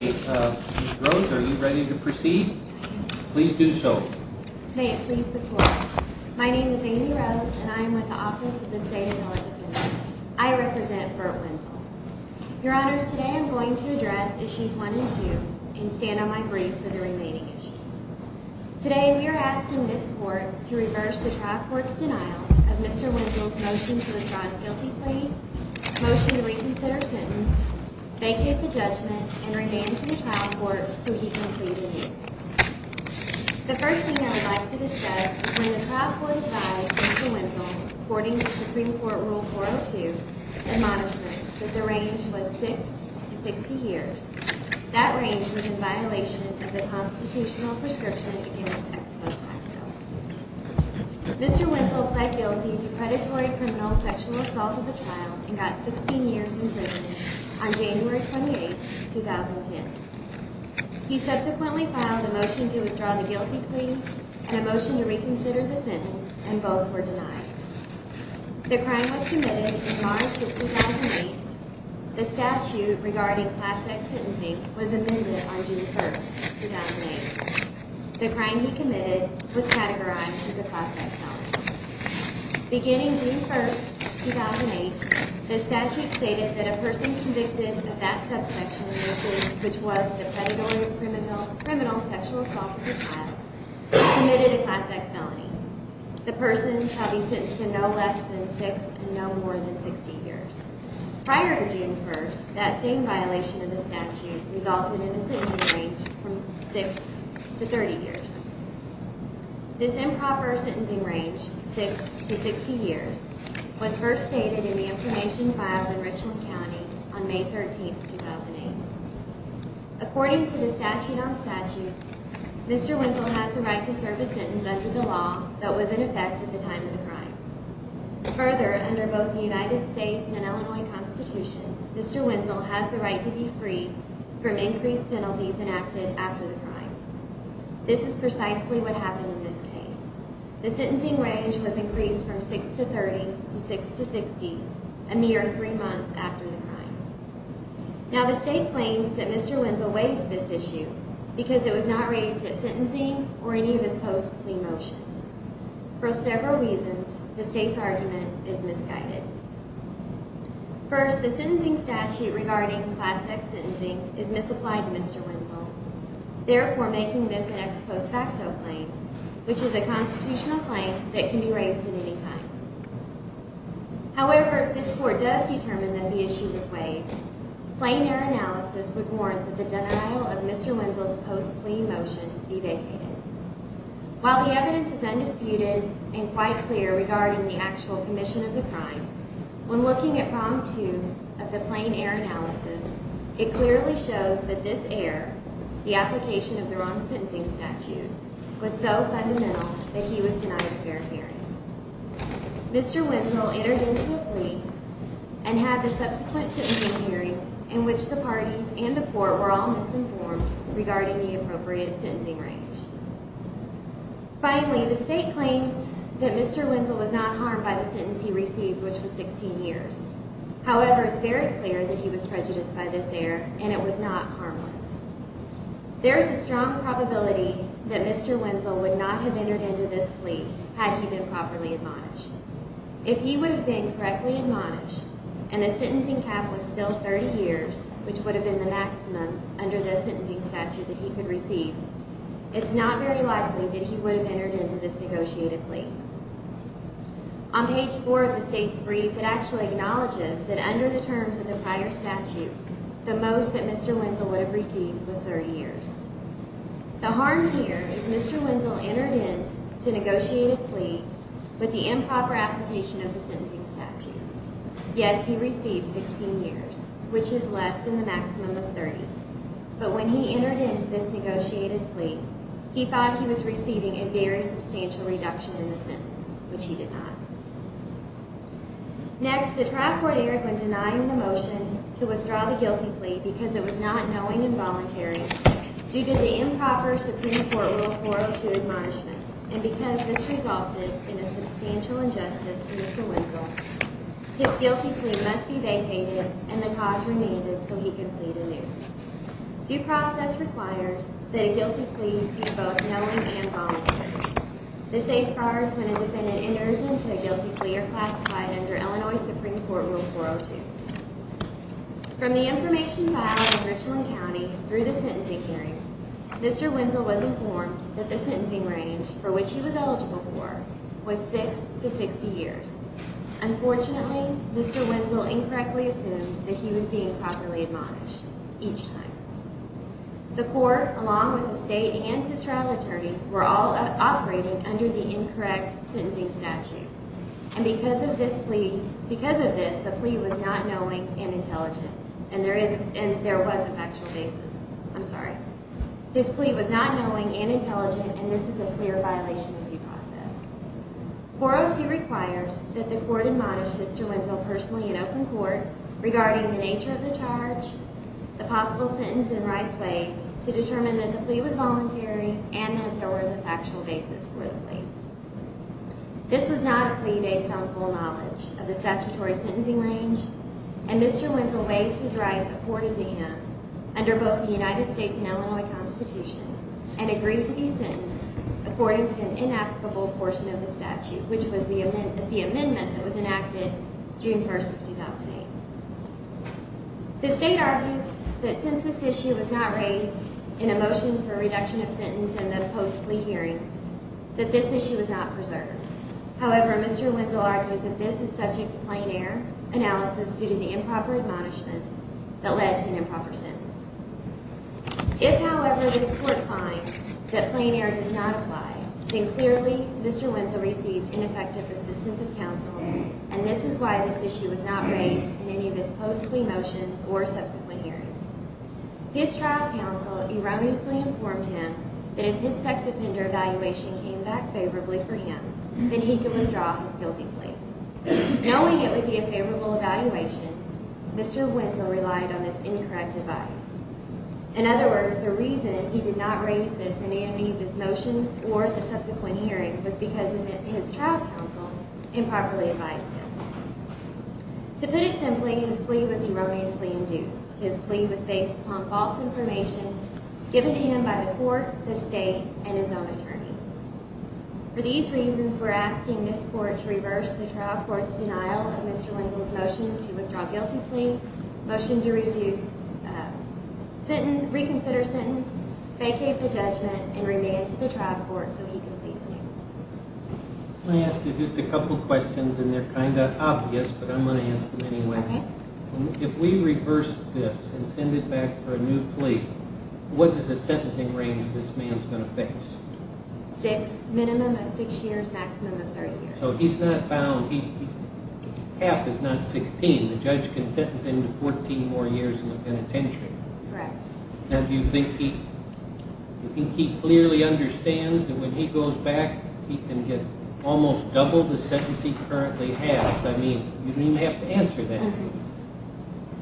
Ms. Rose, are you ready to proceed? I am. Please do so. May it please the Court. My name is Amy Rose, and I am with the Office of the State Analysis Unit. I represent Burt Wenzel. Your Honors, today I am going to address Issues 1 and 2 and stand on my brief for the remaining issues. Today, we are asking this Court to reverse the trial court's denial of Mr. Wenzel's motion to withdraw his guilty plea, motion to reconsider sentence, vacate the judgment, and remain in trial court so he can plead innocent. The first thing I would like to discuss is when the trial court advised Mr. Wenzel, according to Supreme Court Rule 402, admonishments that the range was 6 to 60 years. That range was in violation of the Constitutional Prescription in the Sex Post Act Bill. Mr. Wenzel pled guilty to predatory criminal sexual assault of a child and got 16 years in prison on January 28, 2010. He subsequently filed a motion to withdraw the guilty plea and a motion to reconsider the sentence, and both were denied. The crime was committed in March of 2008. The statute regarding class-act sentencing was amended on June 1, 2008. The crime he committed was categorized as a class-act felony. Beginning June 1, 2008, the statute stated that a person convicted of that subsection of the plea, which was the predatory criminal sexual assault of a child, committed a class-act felony. The person shall be sentenced to no less than 6 and no more than 60 years. Prior to June 1, that same violation of the statute resulted in a sentencing range from 6 to 30 years. This improper sentencing range, 6 to 60 years, was first stated in the information filed in Richland County on May 13, 2008. According to the Statute on Statutes, Mr. Wenzel has the right to serve a sentence under the law that was in effect at the time of the crime. Further, under both the United States and Illinois Constitution, Mr. Wenzel has the right to be free from increased penalties enacted after the crime. This is precisely what happened in this case. The sentencing range was increased from 6 to 30 to 6 to 60, a mere three months after the crime. Now, the state claims that Mr. Wenzel waived this issue because it was not raised at sentencing or any of his post-plea motions. For several reasons, the state's argument is misguided. First, the sentencing statute regarding class-act sentencing is misapplied to Mr. Wenzel, therefore making this an ex post facto claim, which is a constitutional claim that can be raised at any time. However, if this Court does determine that the issue was waived, plain air analysis would warrant that the denial of Mr. Wenzel's post-plea motion be vacated. While the evidence is undisputed and quite clear regarding the actual condition of the crime, when looking at Problem 2 of the plain air analysis, it clearly shows that this air, the application of the wrong sentencing statute, was so fundamental that he was denied a fair hearing. Mr. Wenzel entered into a plea and had the subsequent sentencing hearing in which the parties and the Court were all misinformed regarding the appropriate sentencing range. Finally, the state claims that Mr. Wenzel was not harmed by the sentence he received, which was 16 years. However, it's very clear that he was prejudiced by this air and it was not harmless. There is a strong probability that Mr. Wenzel would not have entered into this plea had he been properly admonished. If he would have been correctly admonished and the sentencing cap was still 30 years, which would have been the maximum under this sentencing statute that he could receive, it's not very likely that he would have entered into this negotiated plea. On page 4 of the state's brief, it actually acknowledges that under the terms of the prior statute, the most that Mr. Wenzel would have received was 30 years. The harm here is Mr. Wenzel entered into a negotiated plea with the improper application of the sentencing statute. Yes, he received 16 years, which is less than the maximum of 30, but when he entered into this negotiated plea, he found he was receiving a very substantial reduction in the sentence, which he did not. Next, the trial court aired when denying the motion to withdraw the guilty plea because it was not knowing and voluntary due to the improper Supreme Court Rule 402 admonishments. And because this resulted in a substantial injustice to Mr. Wenzel, his guilty plea must be vacated and the cause remanded so he can plead anew. Due process requires that a guilty plea be both knowing and voluntary. The safeguards when a defendant enters into a guilty plea are classified under Illinois Supreme Court Rule 402. From the information filed in Richland County through the sentencing hearing, Mr. Wenzel was informed that the sentencing range for which he was eligible for was 6 to 60 years. Unfortunately, Mr. Wenzel incorrectly assumed that he was being properly admonished each time. The court, along with the state and his trial attorney, were all operating under the incorrect sentencing statute. And because of this plea, the plea was not knowing and intelligent. And there was a factual basis. I'm sorry. This plea was not knowing and intelligent, and this is a clear violation of due process. 402 requires that the court admonish Mr. Wenzel personally in open court regarding the nature of the charge, the possible sentence and rights waived to determine that the plea was voluntary, and that there was a factual basis for the plea. This was not a plea based on full knowledge of the statutory sentencing range, and Mr. Wenzel waived his rights afforded to him under both the United States and Illinois Constitution, and agreed to be sentenced according to an inapplicable portion of the statute, which was the amendment that was enacted June 1, 2008. The state argues that since this issue was not raised in a motion for reduction of sentence in the post-plea hearing, that this issue was not preserved. However, Mr. Wenzel argues that this is subject to plain error analysis due to the improper admonishments that led to an improper sentence. If, however, this court finds that plain error does not apply, then clearly Mr. Wenzel received ineffective assistance of counsel, and this is why this issue was not raised in any of his post-plea motions or subsequent hearings. His trial counsel erroneously informed him that if his sex offender evaluation came back favorably for him, then he could withdraw his guilty plea. Knowing it would be a favorable evaluation, Mr. Wenzel relied on this incorrect advice. In other words, the reason he did not raise this in any of his motions or the subsequent hearing was because his trial counsel improperly advised him. To put it simply, his plea was erroneously induced. His plea was based upon false information given to him by the court, the state, and his own attorney. For these reasons, we're asking this court to reverse the trial court's denial of Mr. Wenzel's motion to withdraw guilty plea, motion to reconsider sentence, vacate the judgment, and remand to the trial court so he can plead guilty. I'm going to ask you just a couple questions, and they're kind of obvious, but I'm going to ask them anyway. If we reverse this and send it back for a new plea, what is the sentencing range this man is going to face? Minimum of six years, maximum of 30 years. So he's not bound. The cap is not 16. The judge can sentence him to 14 more years in the penitentiary. Do you think he clearly understands that when he goes back, he can get almost double the sentence he currently has? I mean, you don't even have to answer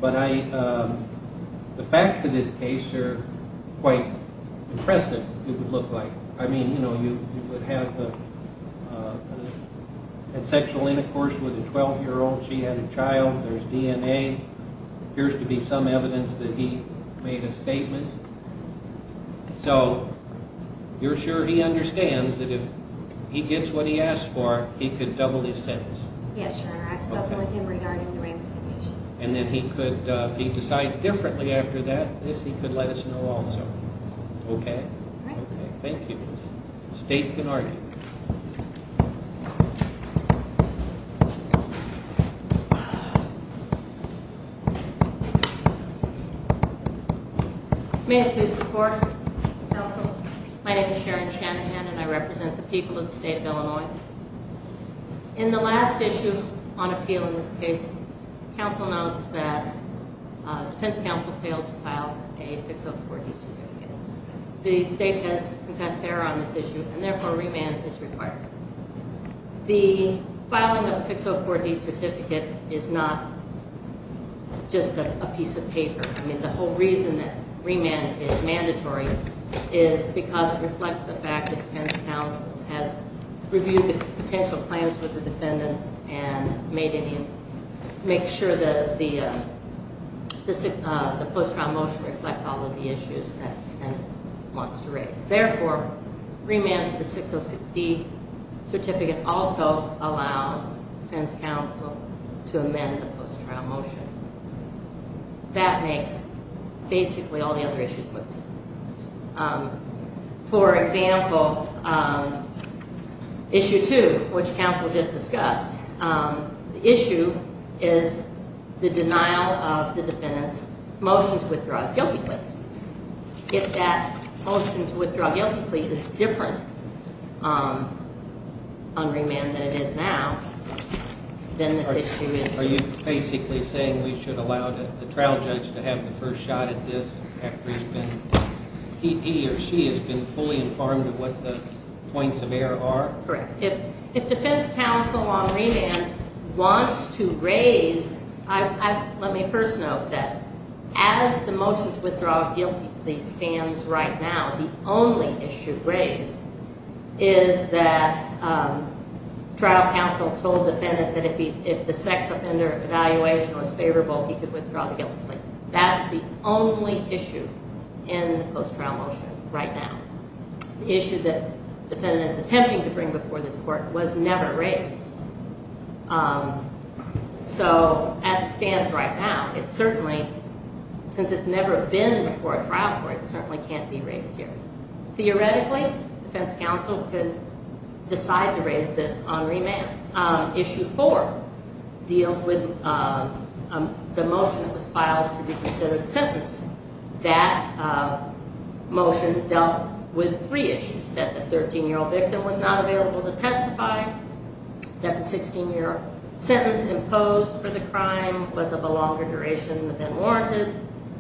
that. The facts of this case are quite impressive, it would look like. I mean, you know, you would have had sexual intercourse with a 12-year-old, she had a child, there's DNA, there appears to be some evidence that he made a statement. So, you're sure he understands that if he gets what he asked for, he could double his sentence? Yes, Your Honor, I've spoken with him regarding the ramifications. And then he could, if he decides differently after that, this he could let us know also. Okay. Thank you. State can argue. May I please report? Counsel. My name is Sharon Shanahan and I represent the people of the state of Illinois. In the last issue on appeal in this case, counsel notes that defense counsel failed to file a 604-D certificate. The state has confessed error on this issue and therefore remand is required. The filing of a 604-D certificate is not just a piece of paper. I mean, the whole reason that remand is mandatory is because it reflects the fact that defense counsel has reviewed the potential plans with the defendant and made any, make sure that the post-trial motion reflects all of the issues that the defendant wants to raise. Therefore, remand for the 604-D certificate also allows defense counsel to amend the post-trial motion. That makes basically all the other issues. For example, issue two, which counsel just discussed, the issue is the denial of the defendant's motion to withdraw his guilty plea. If that motion to withdraw guilty plea is different on remand than it is now, then this issue is. Are you basically saying we should allow the trial judge to have the first shot at this after he or she has been fully informed of what the points of error are? Correct. If defense counsel on remand wants to raise, let me first note that as the motion to withdraw a guilty plea stands right now, the only issue raised is that trial counsel told the defendant that if the sex offender evaluation was favorable, he could withdraw the guilty plea. That's the only issue in the post-trial motion right now. The issue that the defendant is attempting to bring before this court was never raised. So, as it stands right now, it certainly, since it's never been before a trial court, it certainly can't be raised here. Theoretically, defense counsel could decide to raise this on remand. Issue four deals with the motion that was filed to reconsider the sentence. That motion dealt with three issues, that the 13-year-old victim was not available to testify, that the 16-year-old sentence imposed for the crime was of a longer duration than warranted,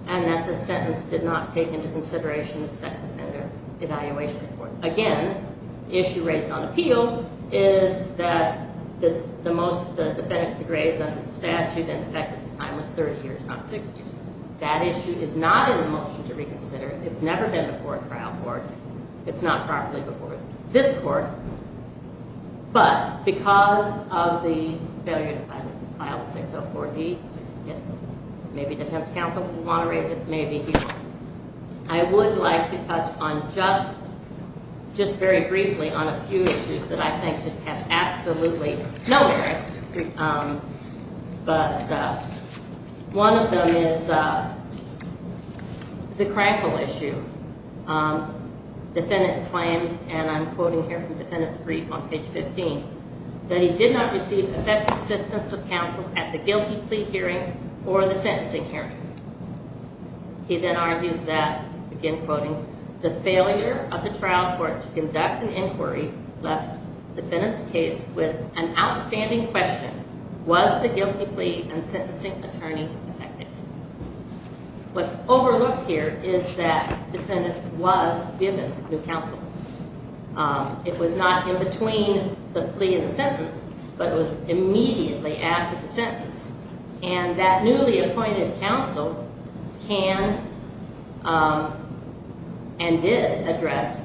and that the sentence did not take into consideration the sex offender evaluation report. Again, the issue raised on appeal is that the most the defendant could raise under the statute and effective time was 30 years, not 60 years. That issue is not in the motion to reconsider. It's never been before a trial court. It's not properly before this court. But because of the failure to file the 604E, maybe defense counsel would want to raise it, maybe he won't. I would like to touch on just very briefly on a few issues that I think just have absolutely no merit. But one of them is the Crankle issue. Defendant claims, and I'm quoting here from Defendant's brief on page 15, that he did not receive effective assistance of counsel at the guilty plea hearing or the sentencing hearing. He then argues that, again quoting, the failure of the trial court to conduct an inquiry left defendant's case with an outstanding question. Was the guilty plea and sentencing attorney effective? What's overlooked here is that defendant was given new counsel. It was not in between the plea and the sentence, but it was immediately after the sentence. And that newly appointed counsel can and did address,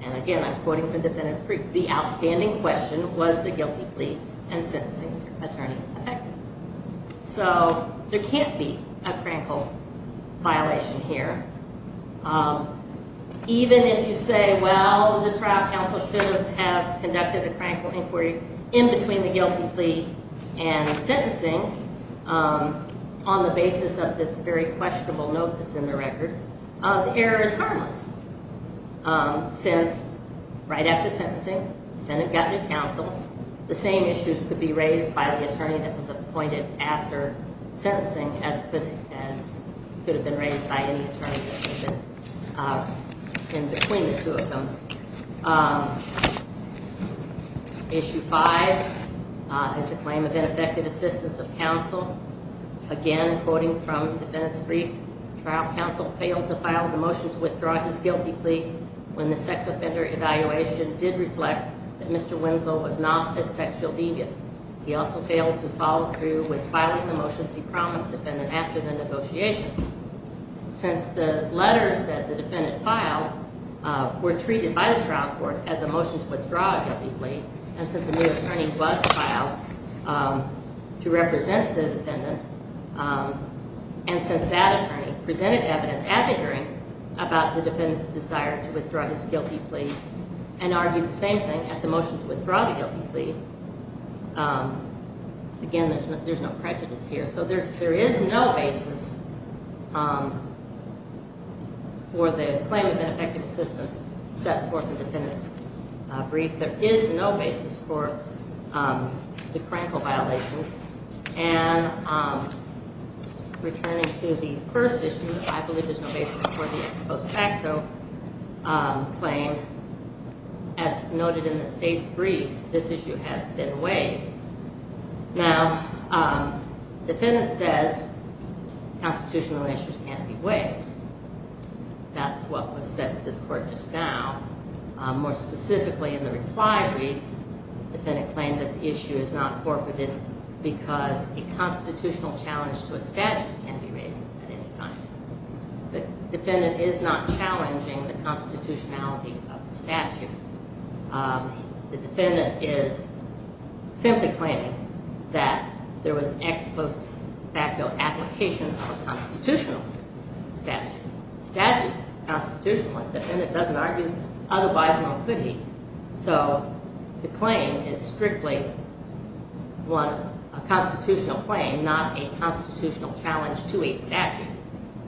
and again I'm quoting from Defendant's brief, the outstanding question, was the guilty plea and sentencing attorney effective? So there can't be a Crankle violation here. Even if you say, well, the trial counsel should have conducted a Crankle inquiry in between the guilty plea and sentencing on the basis of this very questionable note that's in the record, the error is harmless since right after sentencing, defendant got new counsel. The same issues could be raised by the attorney that was appointed after sentencing as could have been raised by any attorney that had been in between the two of them. Issue 5 is a claim of ineffective assistance of counsel. Again, quoting from Defendant's brief, trial counsel failed to file the motion to withdraw his guilty plea when the sex offender evaluation did reflect that Mr. Wenzel was not a sexual deviant. He also failed to follow through with filing the motions he promised defendant after the negotiation. Since the letters that the defendant filed were treated by the trial court as a motion to withdraw a guilty plea, and since a new attorney was filed to represent the defendant, and since that attorney presented evidence at the hearing about the defendant's desire to withdraw his guilty plea, and argued the same thing at the motion to withdraw the guilty plea, again, there's no prejudice here. So there is no basis for the claim of ineffective assistance set forth in Defendant's brief. There is no basis for the crankle violation. And returning to the first issue, I believe there's no basis for the ex post facto claim as noted in the State's brief. This issue has been waived. Now, defendant says constitutional issues can't be waived. That's what was said to this court just now. More specifically, in the reply brief, defendant claimed that the issue is not forfeited because a constitutional challenge to a statute can be raised at any time. The defendant is not challenging the constitutionality of the statute. The defendant is simply claiming that there was an ex post facto application of a constitutional statute. Statute is constitutional. Defendant doesn't argue otherwise nor could he. So the claim is strictly a constitutional claim, not a constitutional challenge to a statute.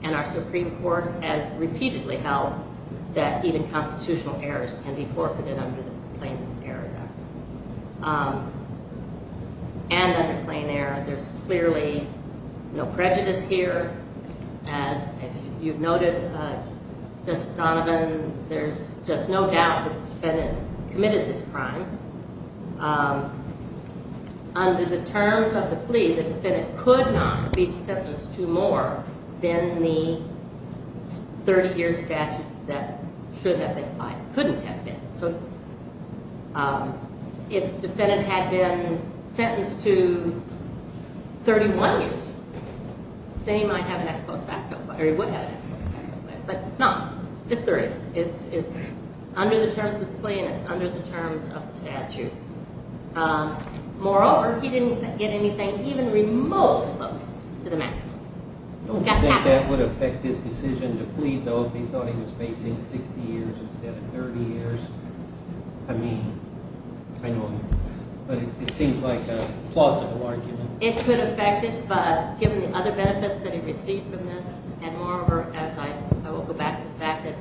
And our Supreme Court has repeatedly held that even constitutional errors can be forfeited under the Plain Error Act. And under Plain Error, there's clearly no prejudice here. As you've noted, Justice Donovan, there's just no doubt the defendant committed this crime. Under the terms of the plea, the defendant could not be sentenced to more than the 30-year statute that should have been applied. Couldn't have been. If defendant had been sentenced to 31 years, then he might have an ex post facto claim. Or he would have an ex post facto claim. But it's not. It's 30. It's under the terms of the plea and it's under the terms of the statute. Moreover, he didn't get anything even remotely close to the maximum. I don't think that would affect his decision to plead, though, if he thought he was facing 60 years instead of 30 years. I mean, I know, but it seems like a plausible argument. It could affect it, but given the other benefits that he received from this, and moreover, as I will go back to the fact that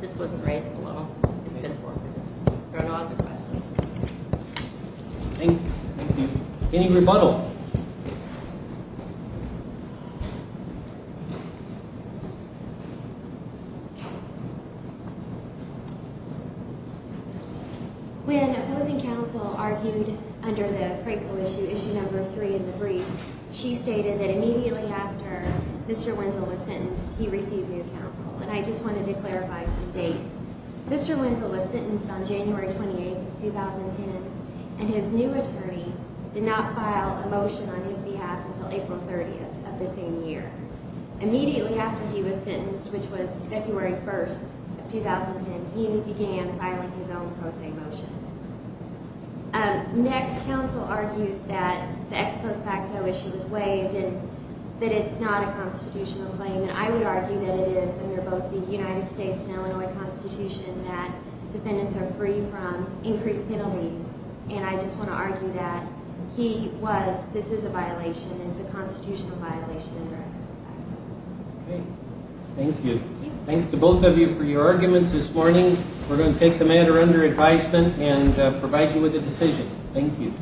this wasn't raised in the law, it's been forfeited. There are no other questions. Thank you. Any rebuttal? When opposing counsel argued under the Franco issue, issue number 3 in the brief, she stated that immediately after Mr. Wenzel was sentenced, he received new counsel. And I just wanted to clarify some dates. Mr. Wenzel was sentenced on January 28th, 2010, and his new attorney did not file a motion on his behalf until April 30th of the same year. Immediately after he was sentenced, which was February 1st of 2010, he began filing his own pro se motions. Next, counsel argues that the ex post facto issue was waived and that it's not a constitutional claim. And I would argue that it is under both the United States and Illinois Constitution that defendants are free from increased penalties. And I just want to argue that he was, this is a violation, and it's a constitutional violation under ex post facto. Thank you. Thanks to both of you for your arguments this morning. We're going to take the matter under advisement and provide you with a decision. Thank you.